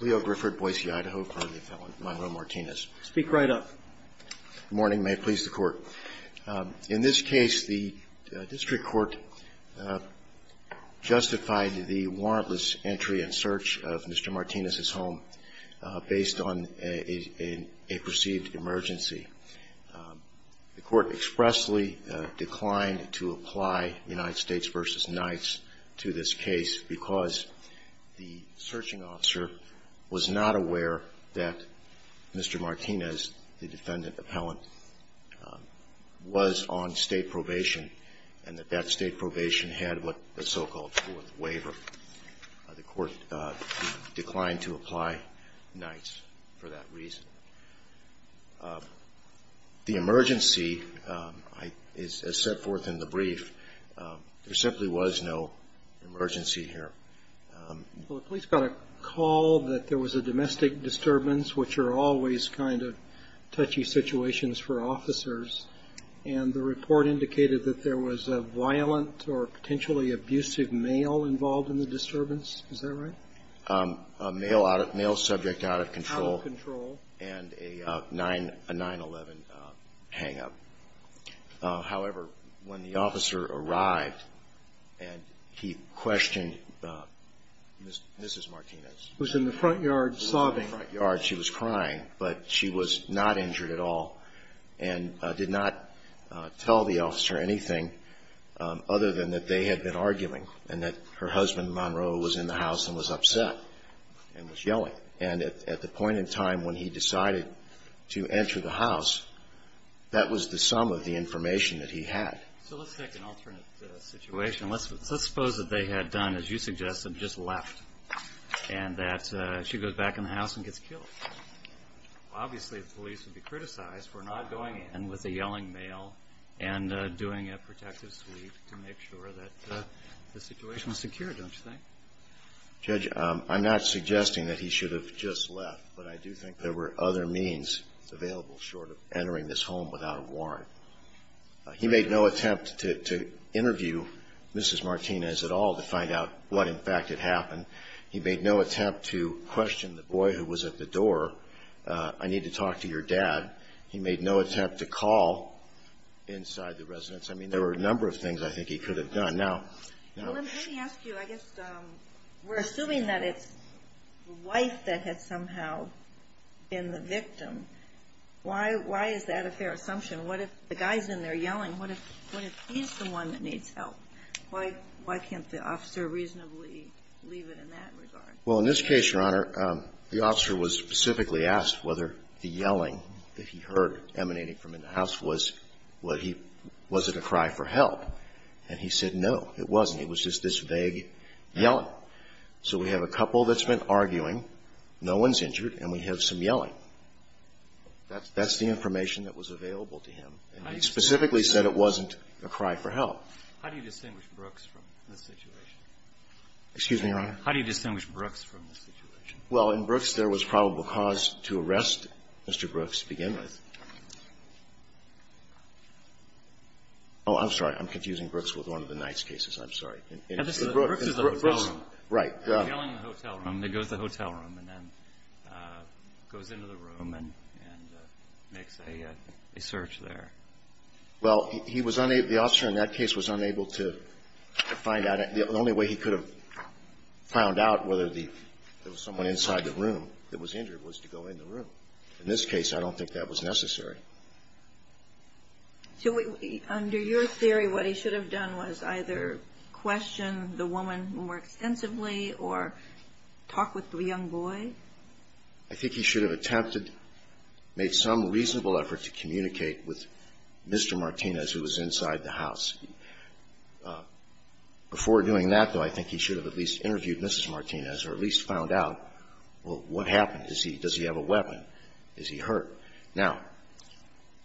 Leo Grifford, Boise, Idaho, currently a felon. My role, Martinez. Speak right up. Good morning. May it please the Court. In this case, the district court justified the warrantless entry and search of Mr. Martinez's home based on a perceived emergency. The Court expressly declined to apply United States v. Knights to this case because the searching officer was not aware that Mr. Martinez, the defendant appellant, was on state probation and that that state probation had what the so-called fourth waiver. The Court declined to apply Knights for that reason. The emergency, as set forth in the brief, there simply was no emergency here. Well, the police got a call that there was a domestic disturbance, which are always kind of touchy situations for officers, and the report indicated that there was a violent or potentially abusive male involved in the disturbance. Is that right? A male subject out of control. Out of control. And a 9-11 hang-up. However, when the officer arrived and he questioned Mrs. Martinez. Was in the front yard sobbing. Was in the front yard. She was crying, but she was not injured at all and did not tell the officer anything other than that they had been arguing and that her husband, Monroe, was in the house and was upset. And was yelling. And at the point in time when he decided to enter the house, that was the sum of the information that he had. So let's take an alternate situation. Let's suppose that they had done, as you suggested, just left and that she goes back in the house and gets killed. Obviously, the police would be criticized for not going in with a yelling male and doing a protective sweep to make sure that the situation was secure, don't you think? Judge, I'm not suggesting that he should have just left, but I do think there were other means available short of entering this home without a warrant. He made no attempt to interview Mrs. Martinez at all to find out what, in fact, had happened. He made no attempt to question the boy who was at the door. I need to talk to your dad. He made no attempt to call inside the residence. I mean, there were a number of things I think he could have done. Well, let me ask you, I guess we're assuming that it's the wife that had somehow been the victim. Why is that a fair assumption? What if the guy's in there yelling? What if he's the one that needs help? Why can't the officer reasonably leave it in that regard? Well, in this case, Your Honor, the officer was specifically asked whether the yelling that he heard emanating from in the house was a cry for help. And he said no, it wasn't. It was just this vague yelling. So we have a couple that's been arguing, no one's injured, and we have some yelling. That's the information that was available to him. And he specifically said it wasn't a cry for help. How do you distinguish Brooks from this situation? Excuse me, Your Honor? How do you distinguish Brooks from this situation? Well, in Brooks, there was probable cause to arrest Mr. Brooks to begin with. Oh, I'm sorry. I'm confusing Brooks with one of the Knight's cases. I'm sorry. Brooks is the hotel room. Right. The hotel room. He goes to the hotel room and then goes into the room and makes a search there. Well, he was unable, the officer in that case was unable to find out. The only way he could have found out whether there was someone inside the room that was injured was to go in the room. In this case, I don't think that was necessary. So under your theory, what he should have done was either question the woman more extensively or talk with the young boy? I think he should have attempted, made some reasonable effort to communicate with Mr. Martinez, who was inside the house. Before doing that, though, I think he should have at least interviewed Mrs. Martinez or at least found out, well, what happened? Does he have a weapon? Is he hurt? Now,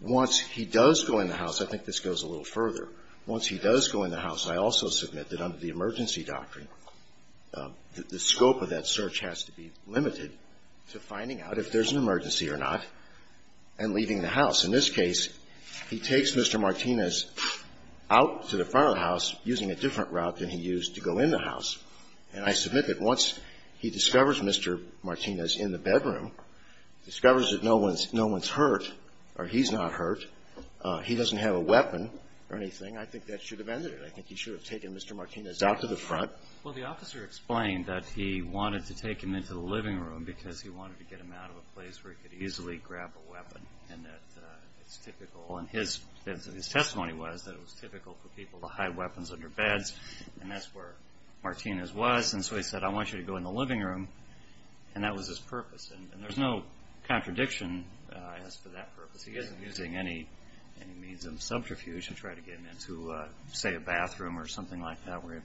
once he does go in the house, I think this goes a little further. Once he does go in the house, I also submit that under the emergency doctrine, the scope of that search has to be limited to finding out if there's an emergency or not and leaving the house. In this case, he takes Mr. Martinez out to the front of the house using a different route than he used to go in the house. And I submit that once he discovers Mr. Martinez in the bedroom, discovers that no one's hurt or he's not hurt, he doesn't have a weapon or anything, I think that should have ended it. I think he should have taken Mr. Martinez out to the front. Well, the officer explained that he wanted to take him into the living room because he wanted to get him out of a place where he could easily grab a weapon and that it's typical. And his testimony was that it was typical for people to hide weapons under beds, and that's where Martinez was. And so he said, I want you to go in the living room, and that was his purpose. And there's no contradiction as to that purpose. He isn't using any means of subterfuge to try to get him into, say, a bathroom or something like that where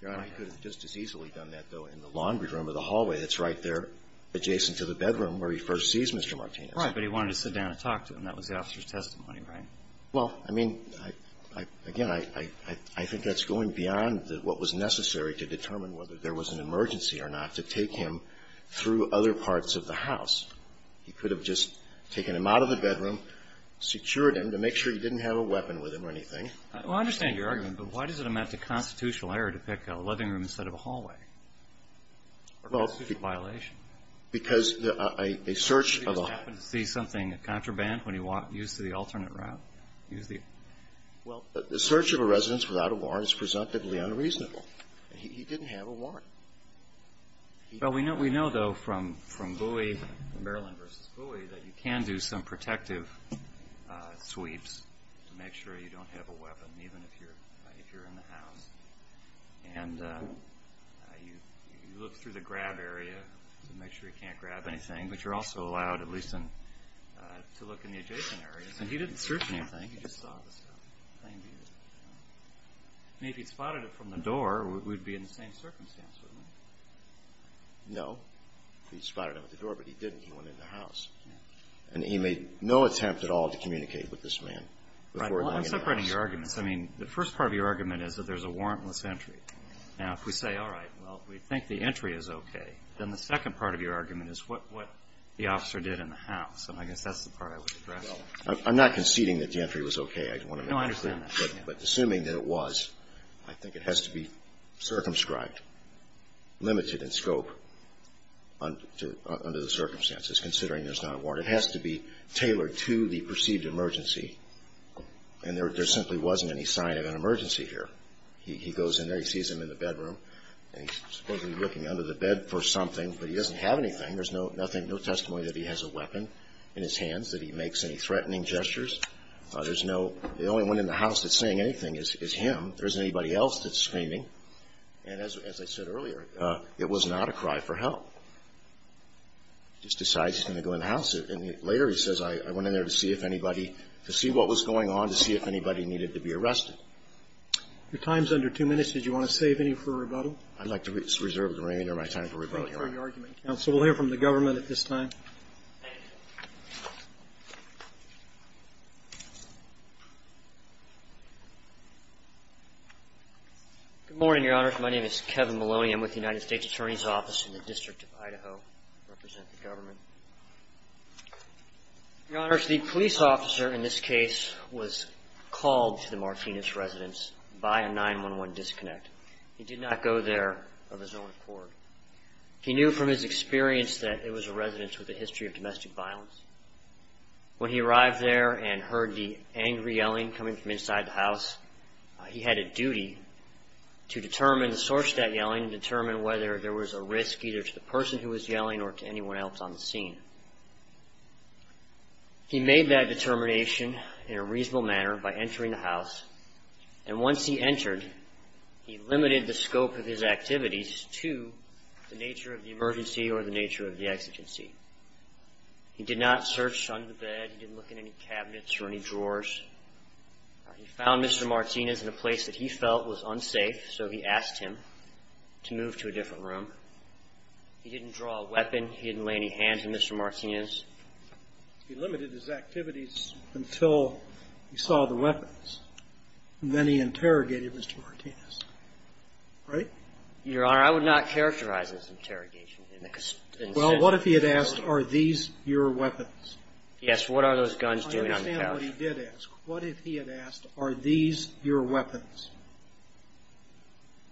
he could have just as easily done that, though, in the laundry room or the hallway that's right there adjacent to the bedroom where he first sees Mr. Martinez. Right. But he wanted to sit down and talk to him. That was the officer's testimony, right? Well, I mean, again, I think that's going beyond what was necessary to determine whether there was an emergency or not to take him through other parts of the house. He could have just taken him out of the bedroom, secured him to make sure he didn't have a weapon with him or anything. Well, I understand your argument, but why does it amount to constitutional error to pick a living room instead of a hallway? Or a constitutional violation? Because a search of a half- Well, a search of a residence without a warrant is presumptively unreasonable. He didn't have a warrant. Well, we know, though, from Bowie, Maryland v. Bowie, that you can do some protective sweeps to make sure you don't have a weapon, even if you're in the house. And you look through the grab area to make sure you can't grab anything, but you're also allowed at least to look in the adjacent areas. And he didn't search anything. He just saw the stuff. And if he'd spotted it from the door, we'd be in the same circumstance, wouldn't we? No. He spotted it with the door, but he didn't. He went in the house. And he made no attempt at all to communicate with this man before going in the house. Right. Well, I'm separating your arguments. I mean, the first part of your argument is that there's a warrantless entry. Now, if we say, all right, well, we think the entry is okay, then the second part of your argument is what the officer did in the house. And I guess that's the part I would address. Well, I'm not conceding that the entry was okay. No, I understand that. But assuming that it was, I think it has to be circumscribed, limited in scope under the circumstances, considering there's not a warrant. It has to be tailored to the perceived emergency. And there simply wasn't any sign of an emergency here. He goes in there. He sees him in the bedroom. And he's supposedly looking under the bed for something. But he doesn't have anything. There's no testimony that he has a weapon in his hands, that he makes any threatening gestures. There's no ñ the only one in the house that's saying anything is him. There isn't anybody else that's screaming. And as I said earlier, it was not a cry for help. He just decides he's going to go in the house. And later he says, I went in there to see if anybody ñ to see what was going on, to see if anybody needed to be arrested. Your time is under two minutes. Did you want to save any for rebuttal? I'd like to reserve the remainder of my time for rebuttal, Your Honor. Thank you for your argument, counsel. We'll hear from the government at this time. Good morning, Your Honor. My name is Kevin Maloney. I'm with the United States Attorney's Office in the District of Idaho. I represent the government. Your Honor, the police officer in this case was called to the Martinez residence by a 911 disconnect. He did not go there of his own accord. He knew from his experience that it was a residence with a history of domestic violence. When he arrived there and heard the angry yelling coming from inside the house, he had a duty to determine the source of that yelling and determine whether there was a risk either to the person who was yelling or to anyone else on the scene. He made that determination in a reasonable manner by entering the house, and once he entered, he limited the scope of his activities to the nature of the emergency or the nature of the exigency. He did not search under the bed. He didn't look in any cabinets or any drawers. He found Mr. Martinez in a place that he felt was unsafe, so he asked him to move to a different room. He didn't draw a weapon. He didn't lay any hands on Mr. Martinez. He limited his activities until he saw the weapons, and then he interrogated Mr. Martinez, right? Your Honor, I would not characterize this interrogation. Well, what if he had asked, are these your weapons? Yes, what are those guns doing on the couch? I understand what he did ask. What if he had asked, are these your weapons?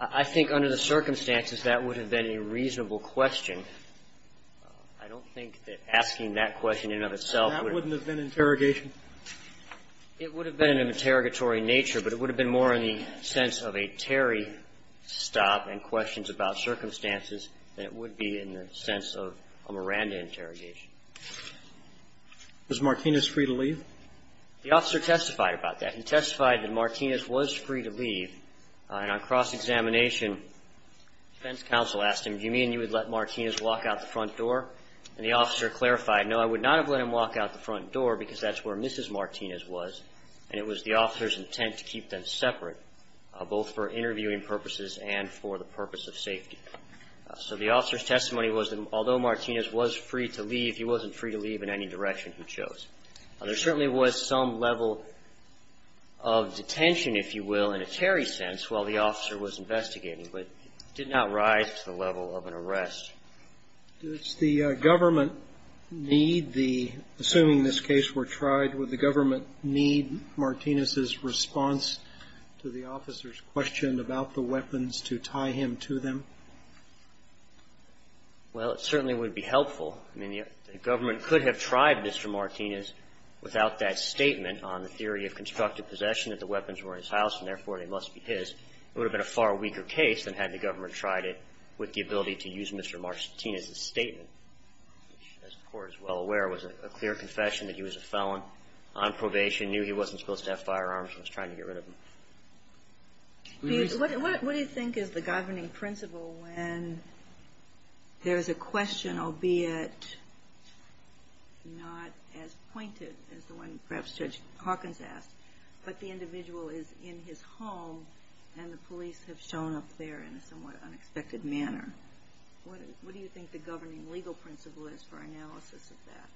I think under the circumstances, that would have been a reasonable question. I don't think that asking that question in and of itself would have been an interrogation. It would have been an interrogatory nature, but it would have been more in the sense of a Terry stop and questions about circumstances than it would be in the sense of a Miranda interrogation. Was Martinez free to leave? The officer testified about that. He testified that Martinez was free to leave, and on cross-examination defense counsel asked him, do you mean you would let Martinez walk out the front door? And the officer clarified, no, I would not have let him walk out the front door because that's where Mrs. Martinez was, and it was the officer's intent to keep them separate, both for interviewing purposes and for the purpose of safety. So the officer's testimony was that although Martinez was free to leave, he wasn't free to leave in any direction he chose. There certainly was some level of detention, if you will, in a Terry sense while the officer was investigating, but it did not rise to the level of an arrest. Does the government need the, assuming this case were tried, would the government need Martinez's response to the officer's question about the weapons to tie him to them? Well, it certainly would be helpful. I mean, the government could have tried Mr. Martinez without that statement on the theory of constructive possession that the weapons were in his house and, therefore, they must be his. It would have been a far weaker case than had the government tried it with the ability to use Mr. Martinez's statement, which, as the Court is well aware, was a clear confession that he was a felon on probation, knew he wasn't supposed to have firearms and was trying to get rid of them. What do you think is the governing principle when there is a question, albeit not as pointed as the one perhaps Judge Hawkins asked, but the individual is in his home and the police have shown up there in a somewhat unexpected manner? What do you think the governing legal principle is for analysis of that?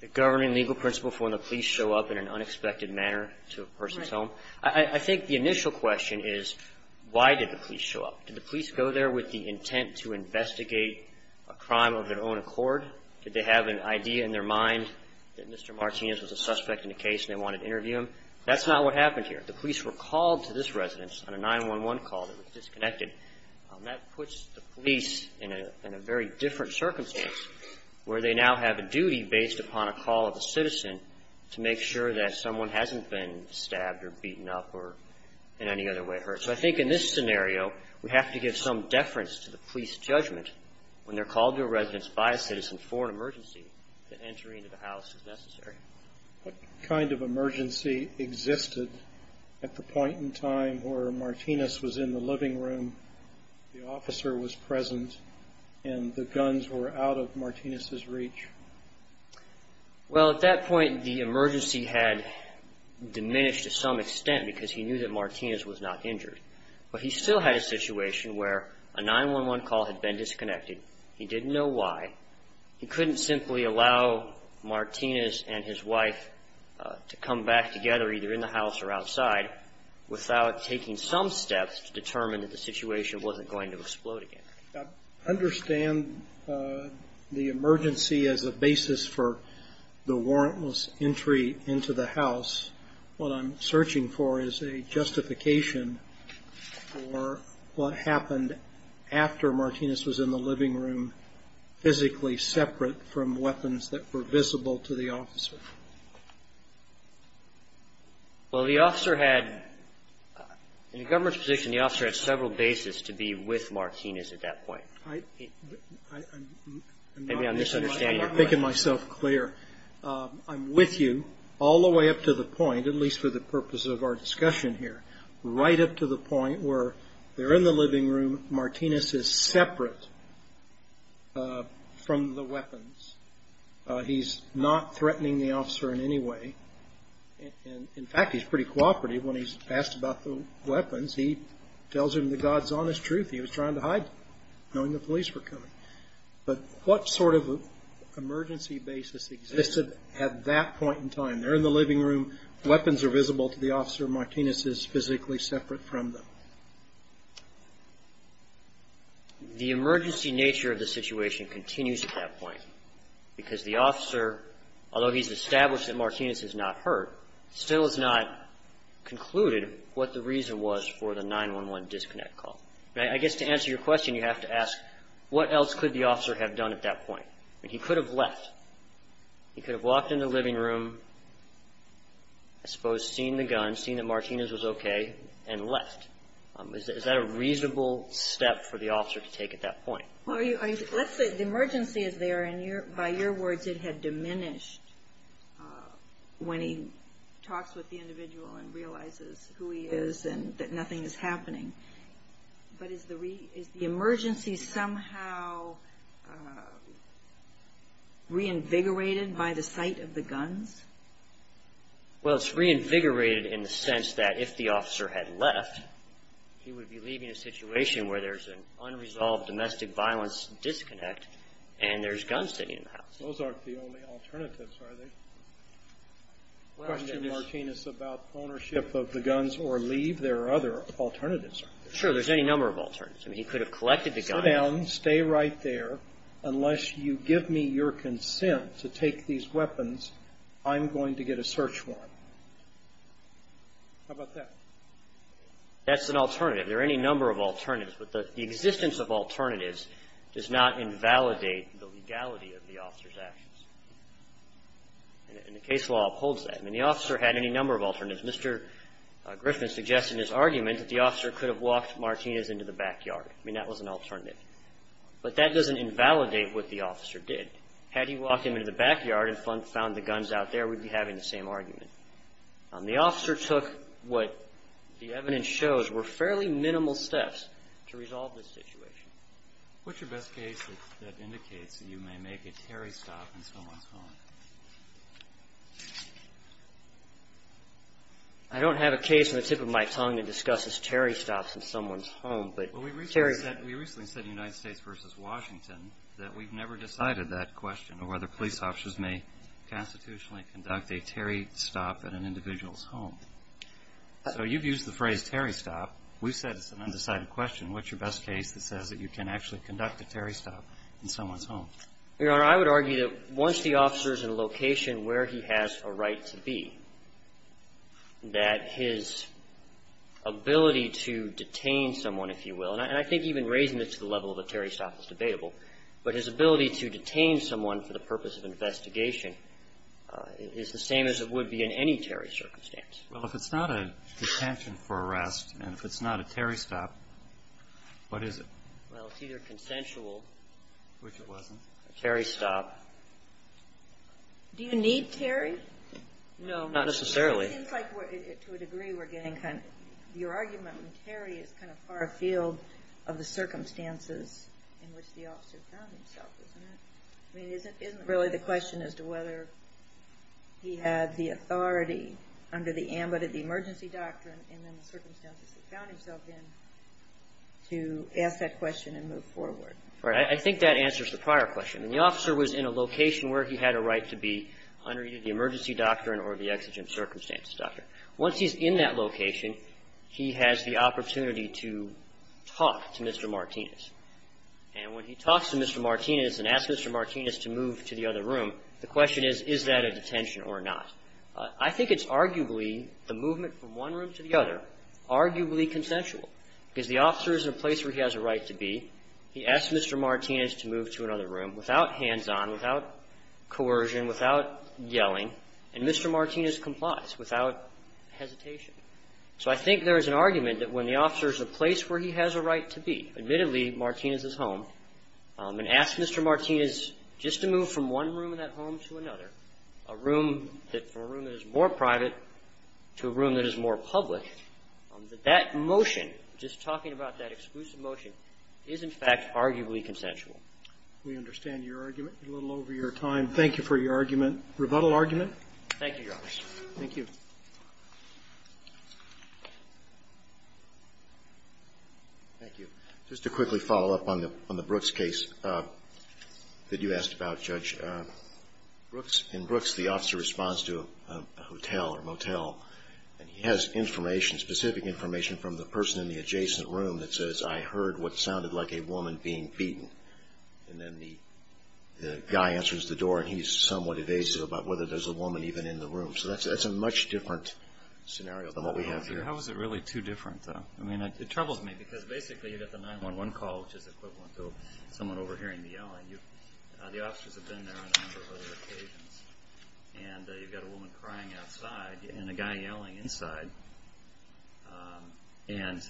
The governing legal principle for when the police show up in an unexpected manner to a person's home? Right. I think the initial question is why did the police show up? Did the police go there with the intent to investigate a crime of their own accord? Did they have an idea in their mind that Mr. Martinez was a suspect in a case and they wanted to interview him? That's not what happened here. The police were called to this residence on a 911 call that was disconnected. That puts the police in a very different circumstance where they now have a duty based upon a call of a citizen to make sure that someone hasn't been stabbed or beaten up or in any other way hurt. So I think in this scenario we have to give some deference to the police judgment when they're called to a residence by a citizen for an emergency, that entry into the house is necessary. What kind of emergency existed at the point in time where Martinez was in the living room, the officer was present, and the guns were out of Martinez's reach? Well, at that point the emergency had diminished to some extent because he knew that Martinez was not injured. But he still had a situation where a 911 call had been disconnected. He didn't know why. He couldn't simply allow Martinez and his wife to come back together, either in the house or outside, without taking some steps to determine that the situation wasn't going to explode again. I understand the emergency as a basis for the warrantless entry into the house. What I'm searching for is a justification for what happened after Martinez was in the living room, physically separate from weapons that were visible to the officer. Well, the officer had, in the government's position, the officer had several bases to be with Martinez at that point. I'm not making myself clear. I'm with you all the way up to the point, at least for the purpose of our discussion here, right up to the point where they're in the living room, Martinez is separate from the weapons. He's not threatening the officer in any way. In fact, he's pretty cooperative. When he's asked about the weapons, he tells him the God's honest truth. He was trying to hide them, knowing the police were coming. But what sort of emergency basis existed at that point in time? They're in the living room. Weapons are visible to the officer. Martinez is physically separate from them. The emergency nature of the situation continues at that point because the officer, although he's established that Martinez is not hurt, still has not concluded what the reason was for the 911 disconnect call. I guess to answer your question, you have to ask, what else could the officer have done at that point? He could have left. He could have walked in the living room, I suppose, seen the gun, seen that Martinez was okay, and left. Is that a reasonable step for the officer to take at that point? Let's say the emergency is there, and by your words, it had diminished when he talks with the individual and realizes who he is and that nothing is happening. But is the emergency somehow reinvigorated by the sight of the guns? Well, it's reinvigorated in the sense that if the officer had left, he would be leaving a situation where there's an unresolved domestic violence disconnect and there's guns sitting in the house. Those aren't the only alternatives, are they? The question is, Martinez, about ownership of the guns or leave. There are other alternatives. Sure. There's any number of alternatives. I mean, he could have collected the guns. Sit down. Stay right there. Unless you give me your consent to take these weapons, I'm going to get a search warrant. How about that? That's an alternative. There are any number of alternatives. But the existence of alternatives does not invalidate the legality of the officer's actions. And the case law upholds that. I mean, the officer had any number of alternatives. Mr. Griffin suggested in his argument that the officer could have walked Martinez into the backyard. I mean, that was an alternative. But that doesn't invalidate what the officer did. Had he walked him into the backyard and found the guns out there, we'd be having the same argument. The officer took what the evidence shows were fairly minimal steps to resolve this situation. What's your best case that indicates that you may make a Terry stop in someone's home? I don't have a case on the tip of my tongue that discusses Terry stops in someone's home. We recently said in United States v. Washington that we've never decided that question of whether police officers may constitutionally conduct a Terry stop at an individual's home. So you've used the phrase Terry stop. We've said it's an undecided question. What's your best case that says that you can actually conduct a Terry stop in someone's home? Your Honor, I would argue that once the officer is in a location where he has a right to be, that his ability to detain someone, if you will, and I think even raising it to the level of a Terry stop is debatable, but his ability to detain someone for the purpose of investigation is the same as it would be in any Terry circumstance. Well, if it's not a detention for arrest and if it's not a Terry stop, what is it? Well, it's either consensual, which it wasn't. A Terry stop. Do you need Terry? No. Not necessarily. It seems like to a degree we're getting kind of your argument when Terry is kind of far afield of the circumstances in which the officer found himself, isn't it? I think that answers the prior question. The officer was in a location where he had a right to be under either the emergency doctrine or the exigent circumstances doctrine. Once he's in that location, he has the opportunity to talk to Mr. Martinez. And when he talks to Mr. Martinez and asks Mr. Martinez to move to the other room, the question is, is that a detention or not? I think it's arguably the movement from one room to the other, arguably consensual, because the officer is in a place where he has a right to be. He asks Mr. Martinez to move to another room without hands-on, without coercion, without yelling, and Mr. Martinez complies without hesitation. So I think there is an argument that when the officer is in a place where he has a right to be, admittedly, Martinez's home, and asks Mr. Martinez just to move from one room of that home to another, a room that's a room that is more private to a room that is more public, that that motion, just talking about that exclusive motion, is in fact arguably consensual. We understand your argument. We're a little over your time. Thank you for your argument. Rebuttal argument? Thank you, Your Honor. Thank you. Thank you. Just to quickly follow up on the Brooks case that you asked about, Judge. In Brooks, the officer responds to a hotel or motel, and he has information, specific information from the person in the adjacent room that says, I heard what sounded like a woman being beaten. And then the guy answers the door, and he's somewhat evasive about whether there's a woman even in the room. So that's a much different scenario than what we have here. How is it really too different, though? I mean, it troubles me, because basically you've got the 911 call, which is equivalent to someone overhearing the yelling. The officers have been there on a number of other occasions, and you've got a woman crying outside and a guy yelling inside. And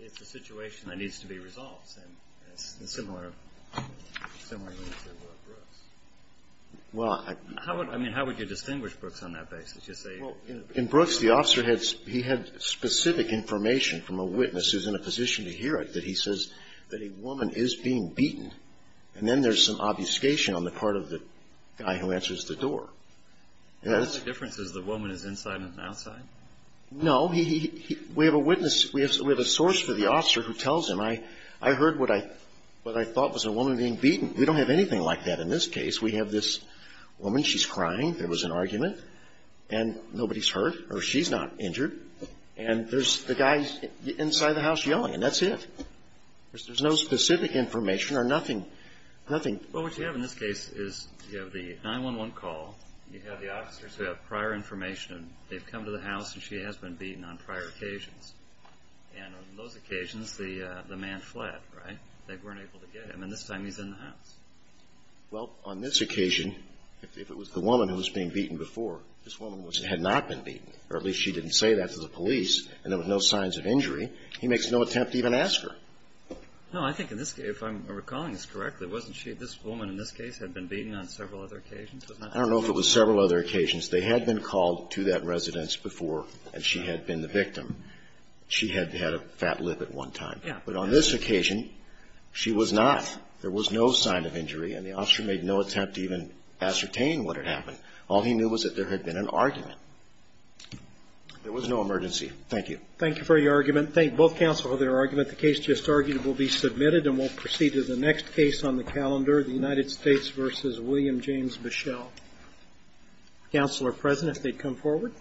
it's a situation that needs to be resolved in a similar way to Brooks. I mean, how would you distinguish Brooks on that basis? In Brooks, the officer had specific information from a witness who's in a position to hear it, that he says that a woman is being beaten. And then there's some obfuscation on the part of the guy who answers the door. The only difference is the woman is inside and outside? No. We have a witness. We have a source for the officer who tells him, I heard what I thought was a woman being beaten. We don't have anything like that in this case. We have this woman. She's crying. There was an argument, and nobody's hurt, or she's not injured. And there's the guy inside the house yelling, and that's it. There's no specific information or nothing. Well, what you have in this case is you have the 911 call. You have the officers who have prior information. They've come to the house, and she has been beaten on prior occasions. And on those occasions, the man fled, right? They weren't able to get him. And this time he's in the house. Well, on this occasion, if it was the woman who was being beaten before, this woman had not been beaten, or at least she didn't say that to the police, and there was no signs of injury. He makes no attempt to even ask her. No. I think in this case, if I'm recalling this correctly, wasn't she at this woman in this case had been beaten on several other occasions? I don't know if it was several other occasions. They had been called to that residence before, and she had been the victim. She had had a fat lip at one time. But on this occasion, she was not. There was no sign of injury, and the officer made no attempt to even ascertain what had happened. All he knew was that there had been an argument. There was no emergency. Thank you. Thank you for your argument. Thank both counsel for their argument. The case just argued will be submitted, and we'll proceed to the next case on the calendar, the United States v. William James Michel. Counsel are present if they'd come forward.